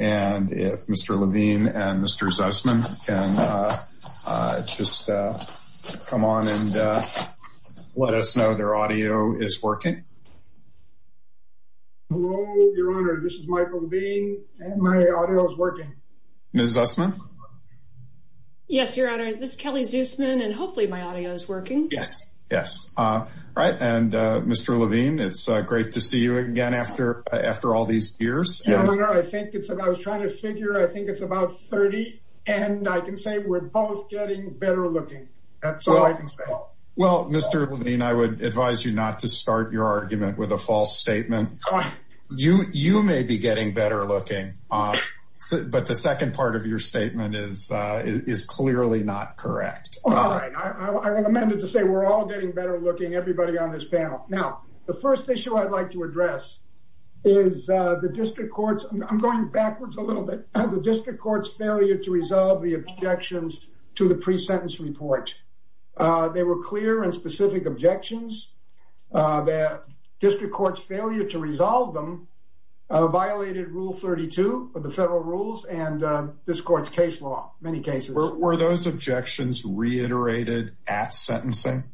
and if Mr. Levine and Mr. Zussman can just come on and let us know their audio is working. Hello, Your Honor. This is Michael Levine and my audio is working. Ms. Zussman? Yes, Your Honor. This is Kelly Zussman and hopefully my audio is working. Yes, yes. Right. And Mr. Levine, it's great to see you again after all these years. Your Honor, I think it's about, I was trying to figure, I think it's about 30 and I can say we're both getting better looking. That's all I can say. Well, Mr. Levine, I would advise you not to start your argument with a false statement. You may be getting better looking, but the second part of your statement is clearly not correct. All right. I will amend it to say we're all getting better looking, everybody on this panel. Now, the first issue I'd like to address is the district courts. I'm going backwards a little bit. The district court's failure to resolve the objections to the pre-sentence report. They were clear and specific objections. The district court's failure to resolve them violated Rule 32 of the federal rules and this court's case law, many cases. Were those objections reiterated at sentencing?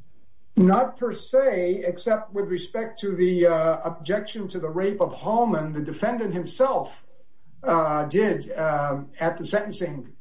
Not per se, except with respect to the objection to the rape of Hallman, the defendant himself did at the sentencing.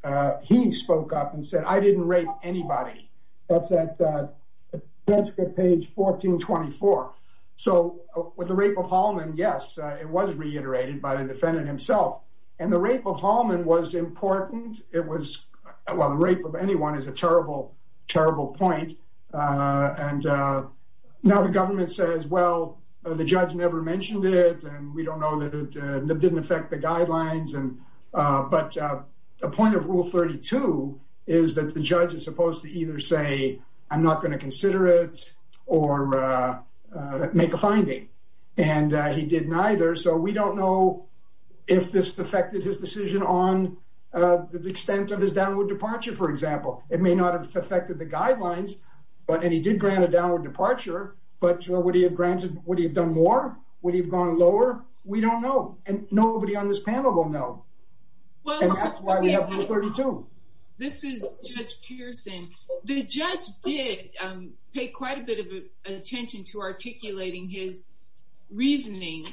He spoke up and said, I didn't rape anybody. That's at page 1424. So with the rape of Hallman, yes, it was reiterated by the defendant himself. And the rape of Hallman was important. It was well, the rape of anyone is a terrible, terrible point. And now the government says, well, the judge never mentioned it. And we don't know that it didn't affect the guidelines. And but the point of Rule 32 is that the judge is supposed to either say, I'm not going to consider it or make a finding. And he didn't either. So we don't know if this affected his decision on the extent of his downward departure. For example, it may not have affected the guidelines, but he did grant a downward departure. But what do you have granted? What have you done more? What have you gone lower? We don't know. And nobody on this panel will know. That's why we have Rule 32. This is Judge Pearson. The judge did pay quite a bit of attention to articulating his reasoning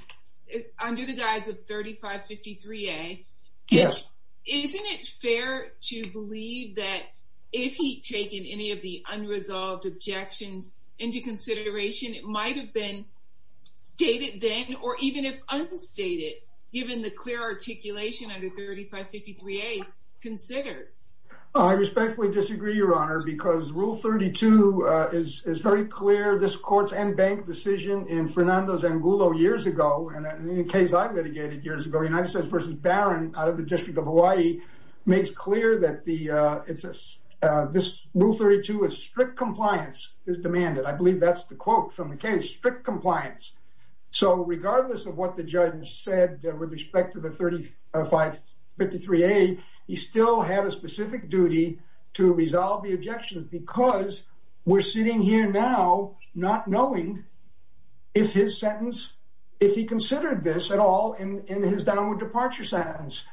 under the guise of 3553A. Yes. Isn't it fair to believe that if he'd taken any of the unresolved objections into consideration, it might have been stated then, or even if unstated, given the clear articulation under 3553A considered? I respectfully disagree, Your Honor, because Rule 32 is very clear. This court's and bank decision in Fernando's Angulo years ago, and in a case I litigated years ago, United States v. Barron out of the District of Hawaii, makes clear that this Rule 32 is strict compliance is demanded. I believe that's the quote from the case. Strict compliance. So regardless of what the judge said with respect to the 3553A, he still had a specific duty to resolve the objections because we're sitting here now not knowing if his sentence, if he considered this at all in his downward departure sentence.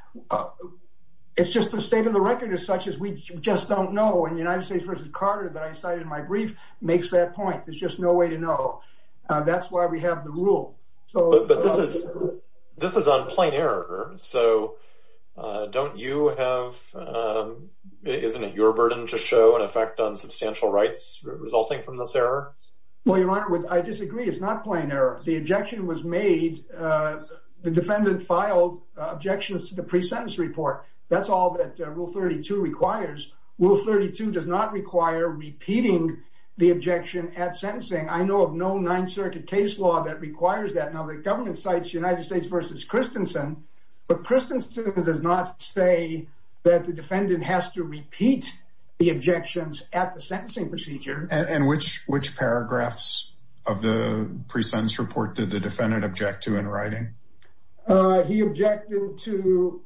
It's just the state of the record is such as we just don't know. And United States v. Carter, that I cited in my brief, makes that point. There's just no way to know. That's why we have the rule. But this is on plain error. So don't you have, isn't it your burden to show an effect on substantial rights resulting from this error? Well, Your Honor, I disagree. It's not plain error. The objection was made, the defendant filed objections to the pre-sentence report. That's all that Rule 32 requires. Rule 32 does not require repeating the objection at sentencing. I know of no Ninth Circuit case law that requires that. Now the government cites United States v. Christensen, but Christensen does not say that the defendant has to repeat the objections at the sentencing procedure. And which paragraphs of the pre-sentence report did the defendant object to in writing? He objected to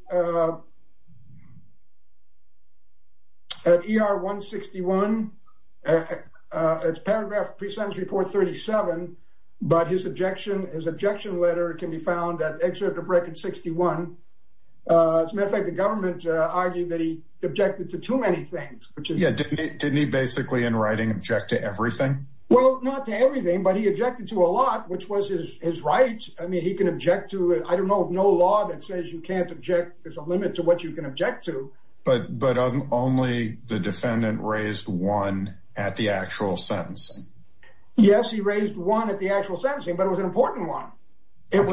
ER 161. It's paragraph of pre-sentence report 37, but his objection letter can be found at excerpt of record 61. As a matter of fact, the government argued that he objected to too many things. Didn't he basically in writing object to everything? Well, not to everything, but he objected to a lot, which was his right. I mean, he can object to it. I don't know of no law that says you can't object. There's a limit to what you can object to. But only the defendant raised one at the actual sentencing. Yes, he raised one at the actual sentencing, but it was an important one. And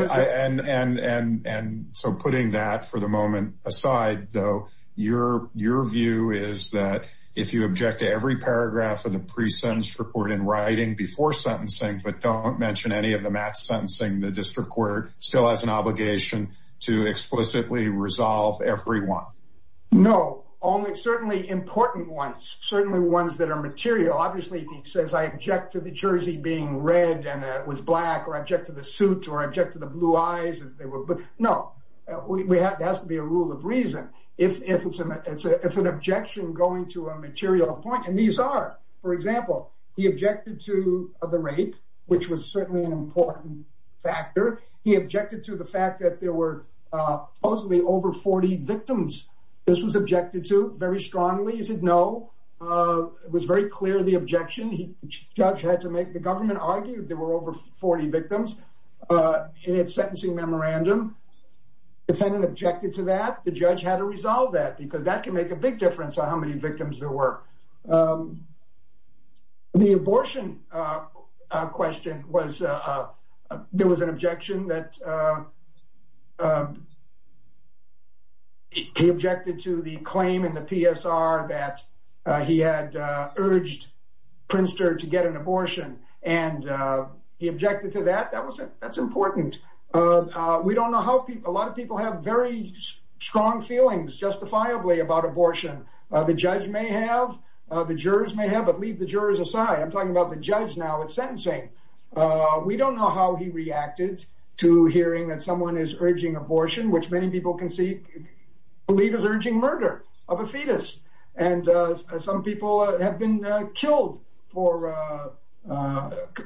so putting that for the moment aside, though, your view is that if you object to every paragraph of the pre-sentence report in writing before sentencing, but don't mention any of the match sentencing, the district court still has an obligation to explicitly resolve every one. No, only certainly important ones, certainly ones that are material. Obviously, if he says I object to the jersey being red and it was black or object to the suit or object to the blue eyes. But no, we have to be a rule of reason. If it's an objection going to a material point, and these are, for example, he objected to the rape, which was certainly an important factor. He objected to the fact that there were supposedly over 40 victims. This was objected to very strongly. He said no. It was very clear the objection the judge had to make. The government argued there were over 40 victims in its sentencing memorandum. The defendant objected to that. The judge had to resolve that because that can make a big difference on how many victims there were. The abortion question was there was an objection that he objected to the claim in the PSR that he had urged Princeton to get an abortion. And he objected to that. That was it. That's important. We don't know how a lot of people have very strong feelings justifiably about abortion. The judge may have, the jurors may have, but leave the jurors aside. I'm talking about the judge now with sentencing. We don't know how he reacted to hearing that someone is urging abortion, which many people can see, believe is urging murder of a fetus. And some people have been killed for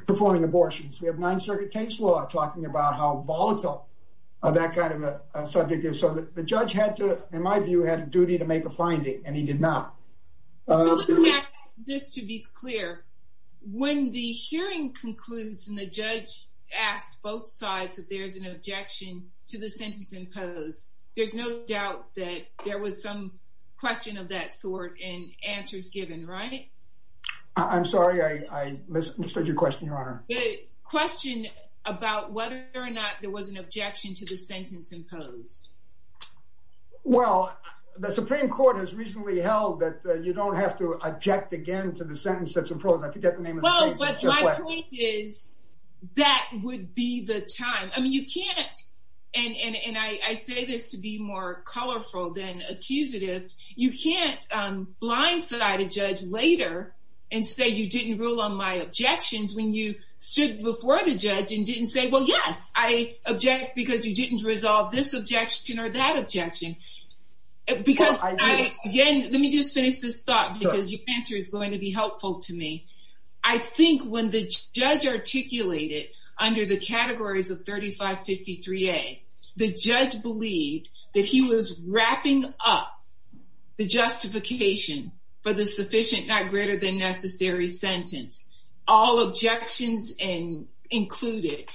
performing abortions. We have Ninth Circuit case law talking about how volatile that kind of a subject is. So the judge had to, in my view, had a duty to make a finding, and he did not. So let me ask this to be clear. When the hearing concludes and the judge asked both sides that there's an objection to the sentence imposed, there's no doubt that there was some question of that sort and answers given, right? I'm sorry. I misunderstood your question, Your Honor. The question about whether or not there was an objection to the sentence imposed. Well, the Supreme Court has recently held that you don't have to object again to the sentence that's imposed. I forget the name of the case. Well, but my point is that would be the time. And I say this to be more colorful than accusative. You can't blindside a judge later and say you didn't rule on my objections when you stood before the judge and didn't say, well, yes, I object because you didn't resolve this objection or that objection. Because, again, let me just finish this thought because your answer is going to be helpful to me. I think when the judge articulated under the categories of 3553A, the judge believed that he was wrapping up the justification for the sufficient, not greater than necessary sentence, all objections included.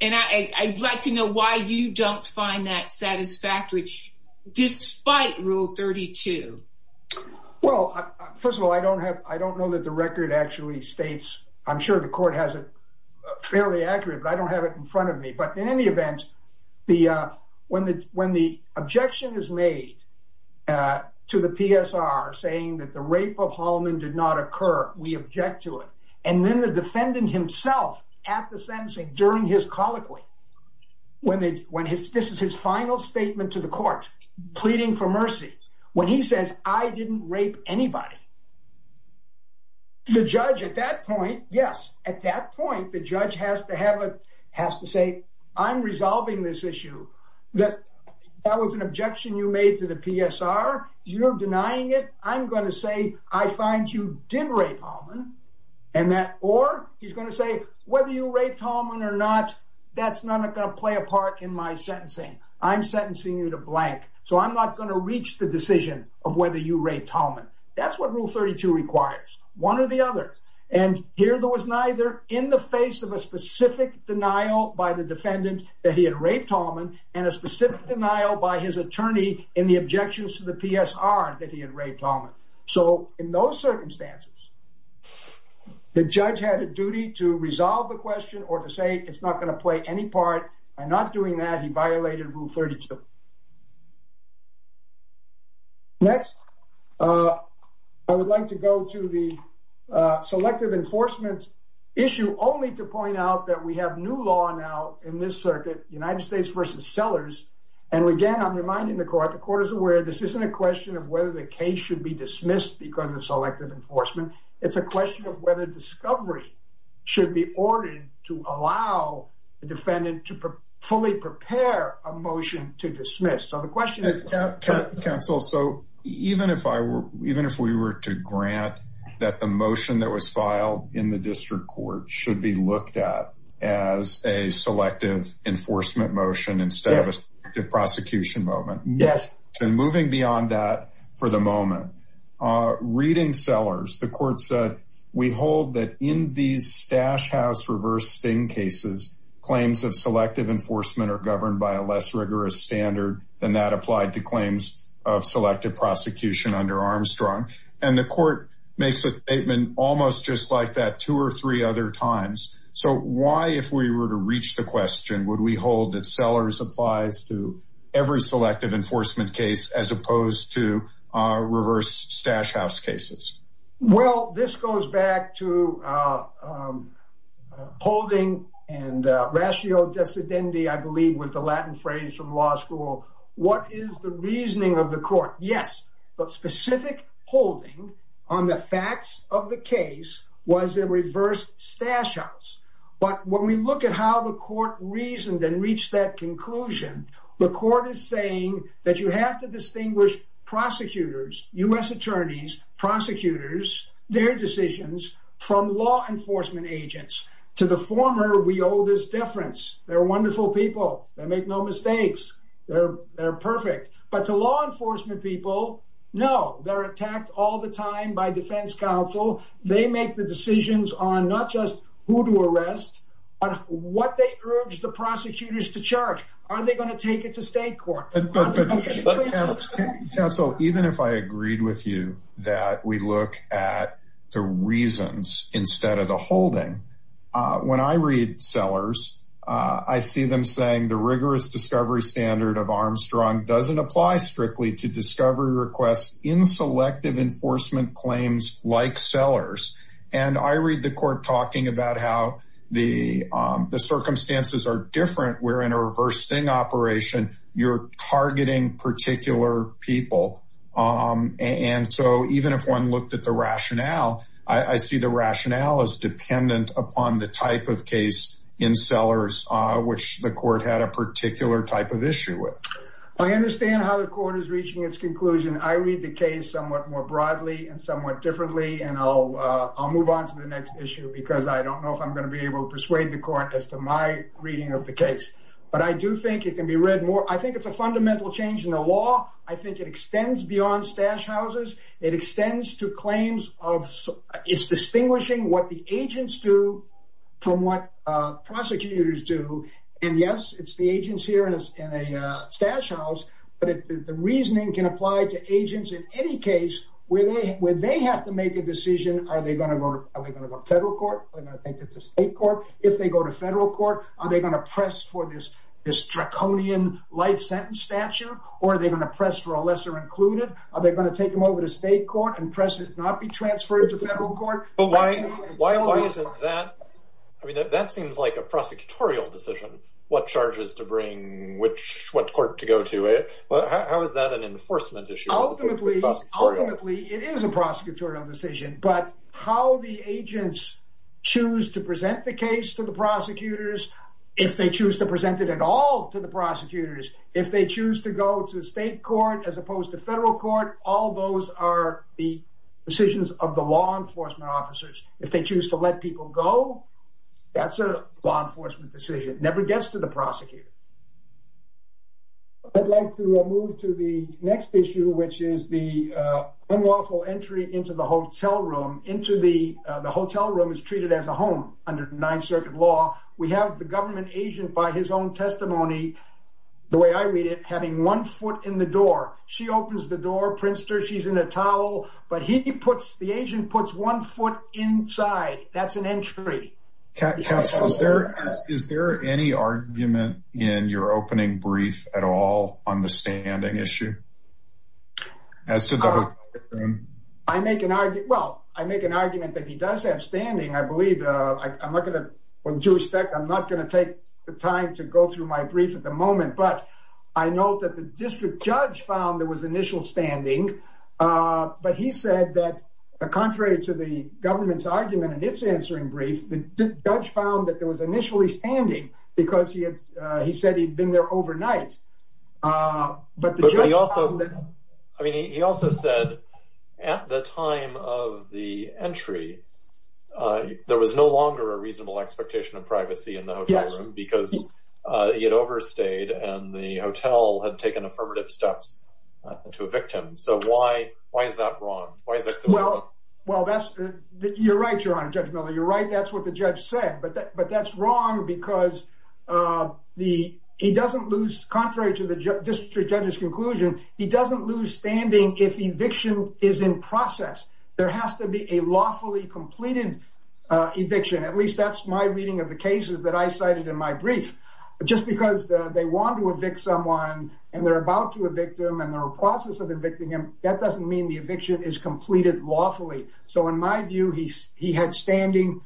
And I'd like to know why you don't find that satisfactory despite Rule 32. Well, first of all, I don't have I don't know that the record actually states. I'm sure the court has it fairly accurate, but I don't have it in front of me. But in any event, when the objection is made to the PSR saying that the rape of Hallman did not occur, we object to it. And then the defendant himself at the sentencing during his colloquy, when this is his final statement to the court pleading for mercy. When he says, I didn't rape anybody. The judge at that point. Yes. At that point, the judge has to have a has to say, I'm resolving this issue that that was an objection you made to the PSR. You're denying it. I'm going to say I find you did rape Hallman and that or he's going to say whether you raped Hallman or not, that's not going to play a part in my sentencing. I'm sentencing you to blank, so I'm not going to reach the decision of whether you raped Hallman. That's what Rule 32 requires one or the other. And here there was neither in the face of a specific denial by the defendant that he had raped Hallman and a specific denial by his attorney in the objections to the PSR that he had raped Hallman. So in those circumstances, the judge had a duty to resolve the question or to say it's not going to play any part. I'm not doing that. He violated Rule 32. Next, I would like to go to the selective enforcement issue only to point out that we have new law now in this circuit, United States versus sellers. And again, I'm reminding the court the court is aware this isn't a question of whether the case should be dismissed because of selective enforcement. It's a question of whether discovery should be ordered to allow the defendant to fully prepare a motion to dismiss. So the question is, counsel, so even if I were even if we were to grant that, the motion that was filed in the district court should be looked at as a selective enforcement motion instead of a prosecution moment. Yes. And moving beyond that for the moment, reading sellers, the court said, we hold that in these stash house reversing cases, claims of selective enforcement are governed by a less rigorous standard than that applied to claims of selective prosecution under Armstrong. And the court makes a statement almost just like that two or three other times. So why, if we were to reach the question, would we hold that sellers applies to every selective enforcement case as opposed to reverse stash house cases? Well, this goes back to holding and ratio dissidentity, I believe, was the Latin phrase from law school. What is the reasoning of the court? Yes. But specific holding on the facts of the case was a reverse stash house. But when we look at how the court reasoned and reached that conclusion, the court is saying that you have to distinguish prosecutors, U.S. attorneys, prosecutors, their decisions from law enforcement agents to the former. We owe this difference. They're wonderful people. They make no mistakes. They're perfect. But the law enforcement people know they're attacked all the time by defense counsel. They make the decisions on not just who to arrest, but what they urge the prosecutors to charge. Are they going to take it to state court? Counsel, even if I agreed with you that we look at the reasons instead of the holding. When I read sellers, I see them saying the rigorous discovery standard of Armstrong doesn't apply strictly to discovery requests in selective enforcement claims like sellers. And I read the court talking about how the circumstances are different. We're in a reversing operation. You're targeting particular people. And so even if one looked at the rationale, I see the rationale is dependent upon the type of case in sellers, which the court had a particular type of issue with. I understand how the court is reaching its conclusion. I read the case somewhat more broadly and somewhat differently. And I'll move on to the next issue because I don't know if I'm going to be able to persuade the court as to my reading of the case. But I do think it can be read more. I think it's a fundamental change in the law. I think it extends beyond stash houses. It extends to claims of it's distinguishing what the agents do from what prosecutors do. And yes, it's the agents here in a stash house. But the reasoning can apply to agents in any case where they have to make a decision. Are they going to go to federal court? Are they going to take it to state court? If they go to federal court, are they going to press for this? This draconian life sentence statute? Or are they going to press for a lesser included? Are they going to take them over to state court and press it not be transferred to federal court? But why isn't that? I mean, that seems like a prosecutorial decision. What charges to bring which what court to go to it? How is that an enforcement issue? Ultimately, it is a prosecutorial decision. But how the agents choose to present the case to the prosecutors, if they choose to present it at all to the prosecutors, if they choose to go to state court as opposed to federal court, all those are the decisions of the law enforcement officers. If they choose to let people go, that's a law enforcement decision. It never gets to the prosecutor. I'd like to move to the next issue, which is the unlawful entry into the hotel room. Into the hotel room is treated as a home under Ninth Circuit law. We have the government agent by his own testimony, the way I read it, having one foot in the door. She opens the door, Prinster, she's in a towel, but he puts the agent puts one foot inside. That's an entry. Is there any argument in your opening brief at all on the standing issue? I make an argument that he does have standing. I'm not going to take the time to go through my brief at the moment. But I know that the district judge found there was initial standing. But he said that contrary to the government's argument in its answering brief, the judge found that there was initially standing because he said he'd been there overnight. He also said at the time of the entry, there was no longer a reasonable expectation of privacy in the hotel room because he had overstayed and the hotel had taken affirmative steps to evict him. So why is that wrong? Well, you're right, Your Honor, Judge Miller, you're right. That's what the judge said. But that's wrong because he doesn't lose, contrary to the district judge's conclusion, he doesn't lose standing if eviction is in process. There has to be a lawfully completed eviction. At least that's my reading of the cases that I cited in my brief. Just because they want to evict someone and they're about to evict them and they're in the process of evicting them, that doesn't mean the eviction is completed lawfully. So in my view, he had standing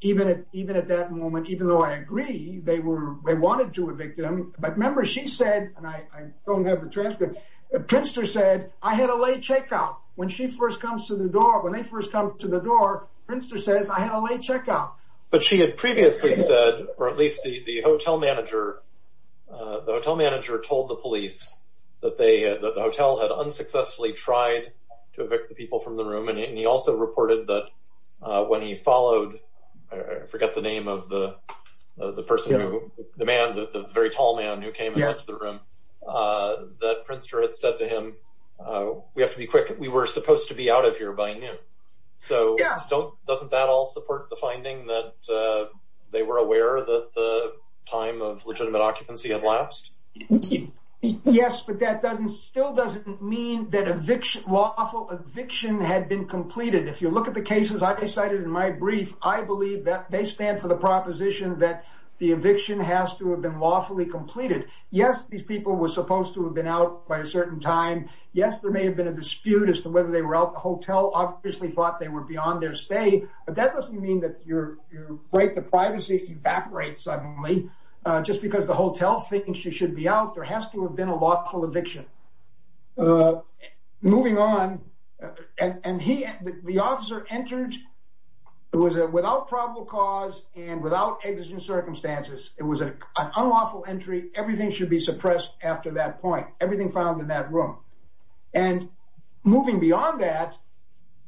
even at that moment, even though I agree they wanted to evict him. But remember, she said, and I don't have the transcript, Prinster said, I had a late checkout. When she first comes to the door, when they first come to the door, Prinster says, I had a late checkout. But she had previously said, or at least the hotel manager, the hotel manager told the police that the hotel had unsuccessfully tried to evict the people from the room. And he also reported that when he followed, I forget the name of the person who, the man, the very tall man who came into the room, that Prinster had said to him, we have to be quick. We were supposed to be out of here by noon. So doesn't that all support the finding that they were aware that the time of legitimate occupancy had lapsed? Yes, but that doesn't still doesn't mean that eviction lawful eviction had been completed. If you look at the cases I cited in my brief, I believe that they stand for the proposition that the eviction has to have been lawfully completed. Yes. These people were supposed to have been out by a certain time. Yes. There may have been a dispute as to whether they were out the hotel, obviously thought they were beyond their stay, but that doesn't mean that you're you're right. The privacy evaporates suddenly just because the hotel thinks you should be out. There has to have been a lawful eviction moving on. And he, the officer entered, it was a without probable cause and without existing circumstances. It was an unlawful entry. Everything should be suppressed after that point. Everything found in that room and moving beyond that.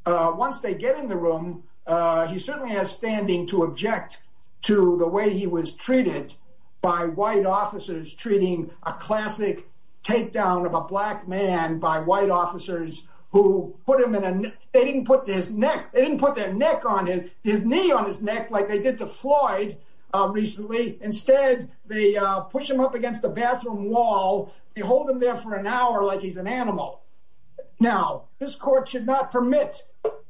Once they get in the room, he certainly has standing to object to the way he was treated by white officers treating a classic takedown of a black man by white officers who put him in a they didn't put this neck. They didn't put their neck on his knee on his neck like they did to Floyd recently. Instead, they push him up against the bathroom wall. They hold him there for an hour like he's an animal. Now this court should not permit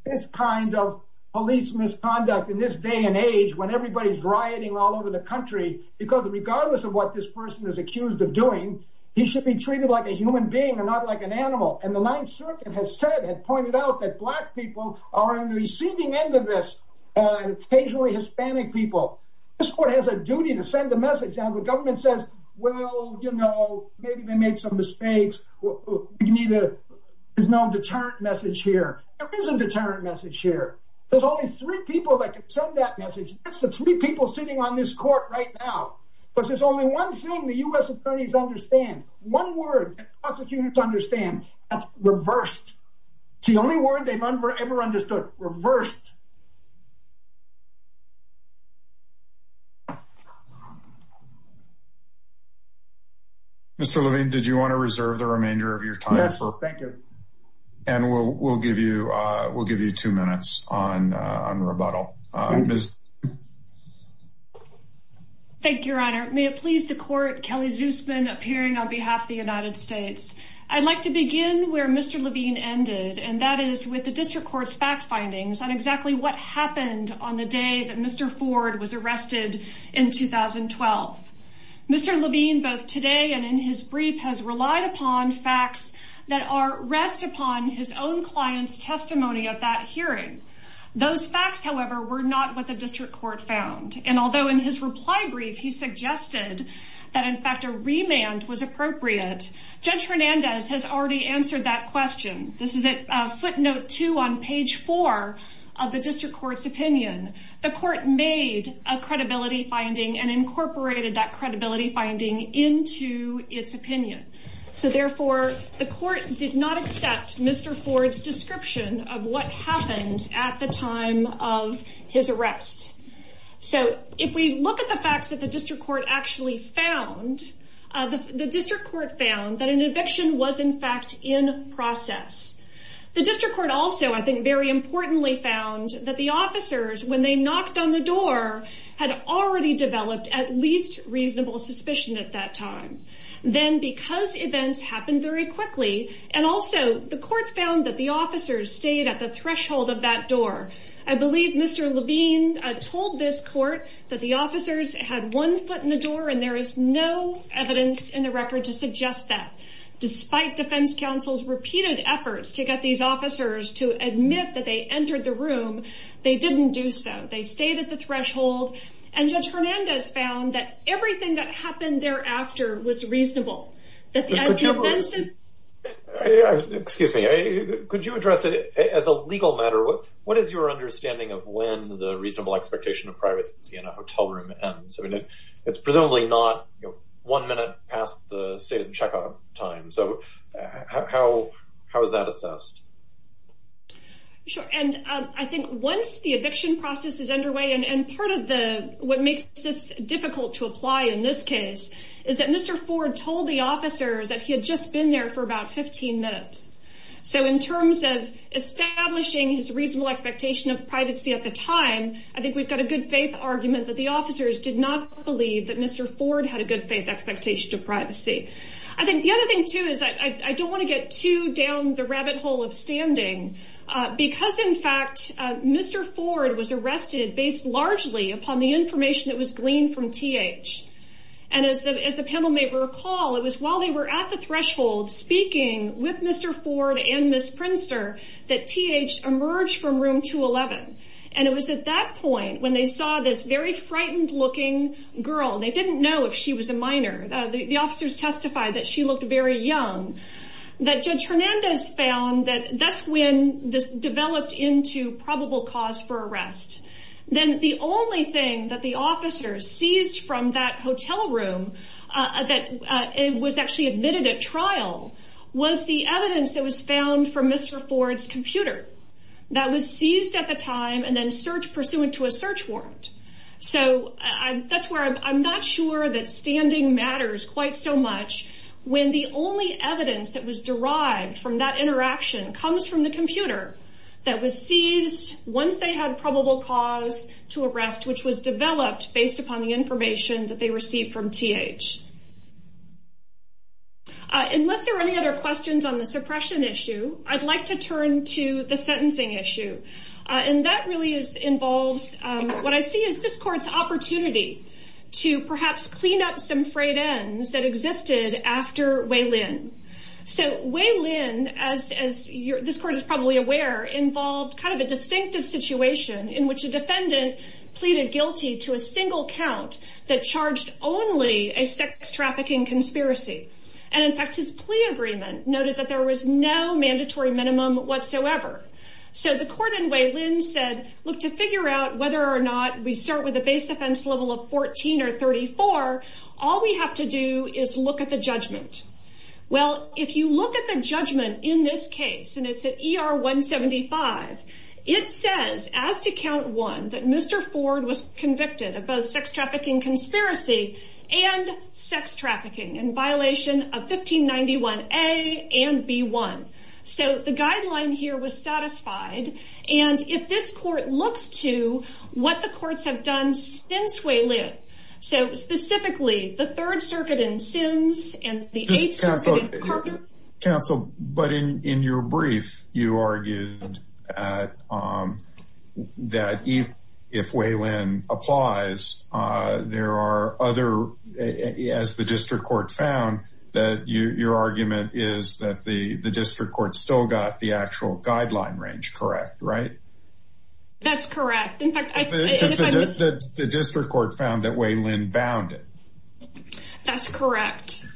this kind of police misconduct in this day and age when everybody's rioting all over the country, because regardless of what this person is accused of doing, he should be treated like a human being and not like an animal. And the ninth circuit has said, had pointed out that black people are in the receiving end of this and occasionally Hispanic people. This court has a duty to send a message down the government says, well, you know, maybe they made some mistakes. You need a, there's no deterrent message here. There is a deterrent message here. There's only three people that could send that message. That's the three people sitting on this court right now, because there's only one thing the U S attorneys understand. One word prosecutors understand that's reversed. It's the only word they've ever, ever understood. Reversed. Mr. Levine. Did you want to reserve the remainder of your time? Thank you. And we'll, we'll give you a, we'll give you two minutes on, on rebuttal. Thank you, Your Honor. May it please the court Kelly Zoosman appearing on behalf of the United States. I'd like to begin where Mr. Levine ended. in the past. On the day that Mr. Ford was arrested in 2012, Mr. Levine, both today and in his brief has relied upon facts that are rest upon his own client's testimony at that hearing. Those facts, however, were not what the district court found. And although in his reply brief, he suggested that in fact, a remand was appropriate. Judge Hernandez has already answered that question. This is a footnote to on page four of the district court's opinion. The court made a credibility finding and incorporated that credibility finding into its opinion. So therefore the court did not accept Mr. Ford's description of what happened at the time of his arrest. So if we look at the facts that the district court actually found, the district court found that an eviction was in fact in process. The district court also, I think very importantly found that the officers, when they knocked on the door, had already developed at least reasonable suspicion at that time. Then because events happen very quickly. And also the court found that the officers stayed at the threshold of that door. I believe Mr. Levine told this court that the officers had one foot in the door and there is no evidence in the record to suggest that despite defense counsel's repeated efforts to get these officers to admit that they entered the room, they didn't do so. They stayed at the threshold and judge Hernandez found that everything that happened thereafter was reasonable. Excuse me. Could you address it as a legal matter? What is your understanding of when the reasonable expectation of privacy in a hotel room ends? I mean, it's presumably not one minute past the stated checkout time. So how, how is that assessed? Sure. And I think once the eviction process is underway and part of the, what makes this difficult to apply in this case is that Mr. Ford told the officers that he had just been there for about 15 minutes. So in terms of establishing his reasonable expectation of privacy at the time, I think we've got a good faith argument that the officers did not believe that Mr. Ford had a good faith expectation of privacy. I think the other thing too is I don't want to get too down the rabbit hole of standing because in fact, Mr. Ford was arrested based largely upon the information that was gleaned from TH. And as the, as the panel may recall, it was while they were at the threshold speaking with Mr. Ford and Ms. Prinster that TH emerged from room 211. And it was at that point when they saw this very frightened looking girl, they didn't know if she was a minor. The officers testified that she looked very young, that Judge Hernandez found that that's when this developed into probable cause for arrest. Then the only thing that the officers seized from that hotel room that it was actually admitted at trial was the evidence that was found from Mr. Ford's computer that was seized at the time and then search pursuant to a search warrant. So that's where I'm not sure that standing matters quite so much when the only evidence that was derived from that interaction comes from the computer that was seized once they had probable cause to arrest, which was developed based upon the information that they received from TH. Unless there are any other questions on the suppression issue, I'd like to turn to the sentencing issue. And that really involves what I see as this court's opportunity to perhaps clean up some frayed ends that existed after Way Lin. So Way Lin, as this court is probably aware, involved kind of a distinctive situation in which a defendant pleaded guilty to a single count that charged only a sex trafficking conspiracy. And in fact, his plea agreement noted that there was no mandatory minimum whatsoever. So the court in Way Lin said, look, to figure out whether or not we start with a base offense level of 14 or 34, all we have to do is look at the judgment. Well, if you look at the judgment in this case, and it's at ER 175, it says as to count one, that Mr. Ford was convicted of both sex trafficking conspiracy and sex trafficking in violation of 1591 A and B1. So the guideline here was satisfied. And if this court looks to what the courts have done since Way Lin, so specifically the Third Circuit in Sims and the Eighth Circuit in Carpenter. Counsel, but in your brief, you argued that if Way Lin applies, there are other, as the district court found, that your argument is that the district court still got the actual guideline range correct, right? That's correct. The district court found that Way Lin bound it. That's correct.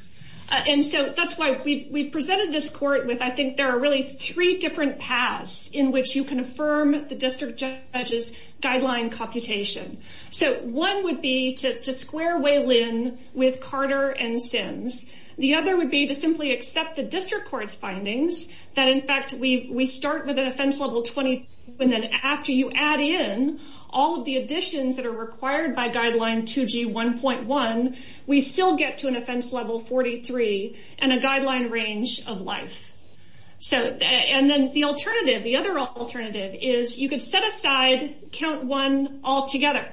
And so that's why we've presented this court with, I think there are really three different paths in which you can affirm the district judge's guideline computation. So one would be to square Way Lin with Carter and Sims. The other would be to simply accept the district court's findings that, in fact, we start with an offense level 20, and then after you add in all of the additions that are required by guideline 2G1.1, we still get to an offense level 43 and a guideline range of life. So, and then the alternative, the other alternative is you could set aside count one altogether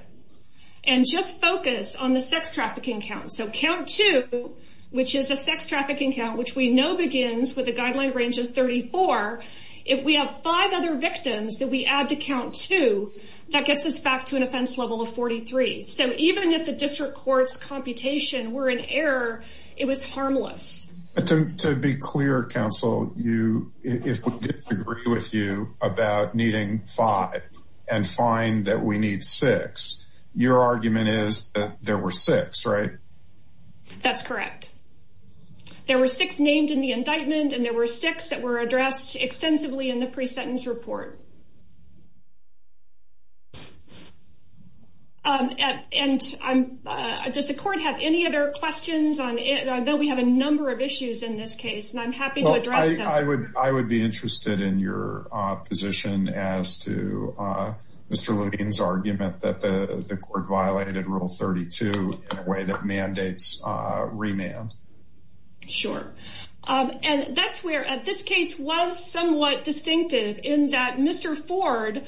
and just focus on the sex trafficking count. So count two, which is a sex trafficking count, which we know begins with a guideline range of 34. If we have five other victims that we add to count two, that gets us back to an offense level of 43. So even if the district court's computation were in error, it was harmless. To be clear, counsel, if we disagree with you about needing five and find that we need six, your argument is that there were six, right? That's correct. There were six named in the indictment and there were six that were addressed extensively in the pre-sentence report. And does the court have any other questions? I know we have a number of issues in this case, and I'm happy to address them. I would be interested in your position as to Mr. Ford violated rule 32 in a way that mandates remand. Sure. And that's where this case was somewhat distinctive in that Mr. Ford,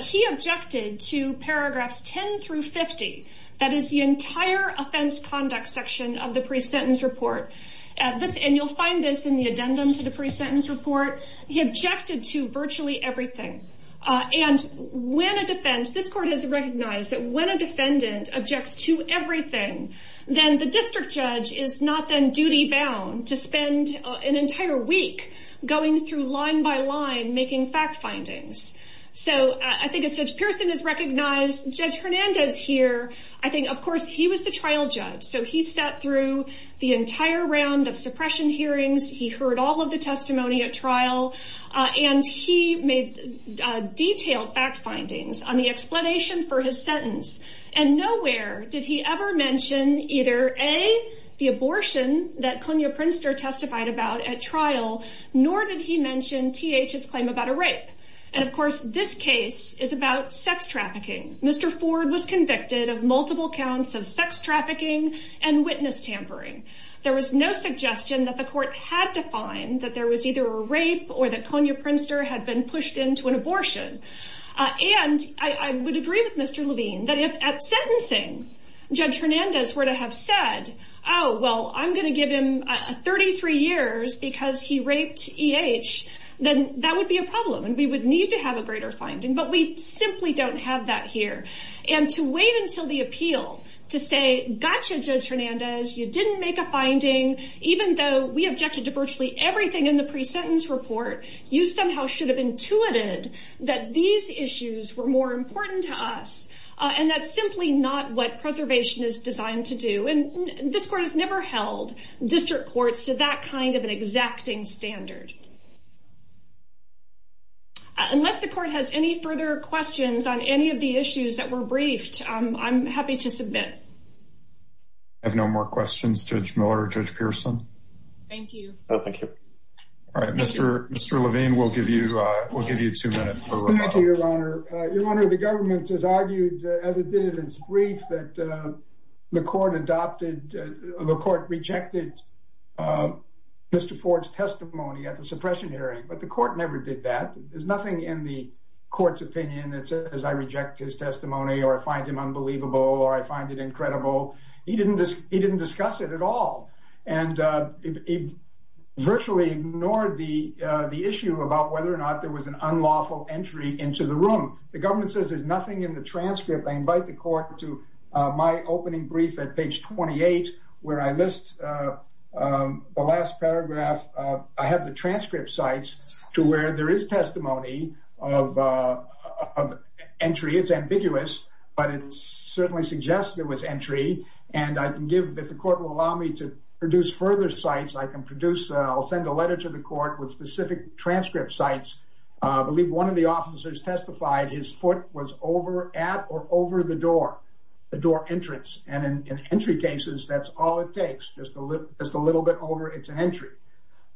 he objected to paragraphs 10 through 50. That is the entire offense conduct section of the pre-sentence report. And you'll find this in the addendum to the pre-sentence report. He objected to virtually everything. And when a defense, this court has recognized that when a defendant objects to everything, then the district judge is not then duty bound to spend an entire week going through line by line making fact findings. So I think as Judge Pearson has recognized, Judge Hernandez here, I think, of course, he was the trial judge. So he sat through the entire round of suppression hearings. He heard all of the testimony at trial. And he made detailed fact findings on the explanation for his sentence. And nowhere did he ever mention either A, the abortion that Konya Prinster testified about at trial, nor did he mention TH's claim about a rape. And of course, this case is about sex trafficking. Mr. Ford was convicted of multiple counts of sex trafficking and witness tampering. There was no suggestion that the court had defined that there was either a rape or that Konya Prinster had been pushed into an abortion. And I would agree with Mr. Levine, that if at sentencing, Judge Hernandez were to have said, oh, well, I'm going to give him 33 years because he raped EH, then that would be a problem. And we would need to have a greater finding. But we simply don't have that here. And to wait until the appeal to say, gotcha, Judge Hernandez, you didn't make a finding, even though we objected to virtually everything in the pre-sentence report, you somehow should have intuited that these issues were more important to us. And that's simply not what preservation is designed to do. And this court has never held district courts to that kind of an exacting standard. Unless the court has any further questions on any of the issues that were briefed, I'm happy to submit. I have no more questions, Judge Miller, Judge Pearson. Thank you. All right, Mr. Levine, we'll give you two minutes. Thank you, Your Honor. Your Honor, the government has argued, as it did in its brief, that the court rejected Mr. Ford's testimony at the suppression hearing. But the court never did that. There's nothing in the court's opinion that says I reject his testimony or I find him unbelievable or I find it incredible. He didn't discuss it at all. And he virtually ignored the issue about whether or not there was an unlawful entry into the room. The government says there's nothing in the transcript. I invite the court to my opening brief at page 28, where I list the last paragraph. I have the transcript sites to where there is testimony of entry. It's ambiguous, but it certainly suggests there was entry. And if the court will allow me to produce further sites, I'll send a letter to the court with specific transcript sites. I believe one of the officers testified his foot was over at or over the door, the door entrance. And in entry cases, that's all it takes. Just a little bit over, it's an entry.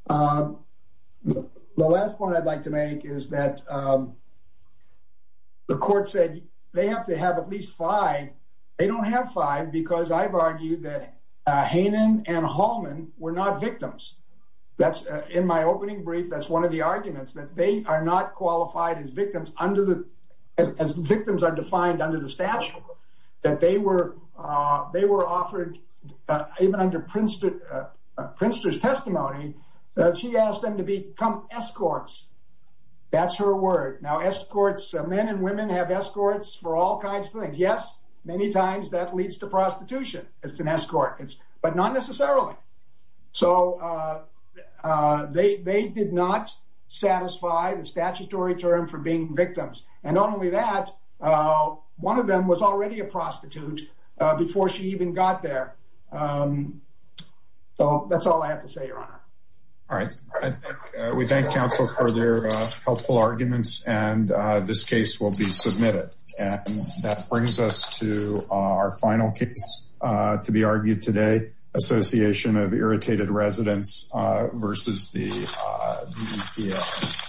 The last point I'd like to make is that the court said they have to have at least five. They don't have five, because I've argued that Hanen and Hallman were not victims. That's in my opening brief, that's one of the arguments that they are not qualified as victims under the, as victims are defined under the statute, that they were, they were offered, even under Prinster's testimony, that she asked them to become escorts. That's her word. Now escorts, men and women have escorts for all kinds of things. Yes, many times that leads to prostitution. It's an escort, but not necessarily. So they did not satisfy the statutory term for being victims. And not only that, one of them was already a prostitute before she even got there. So that's all I have to say, Your Honor. All right. We thank counsel for their helpful arguments and this case will be submitted. And that brings us to our final case to be argued today, Association of Irritated Residents versus the EPA.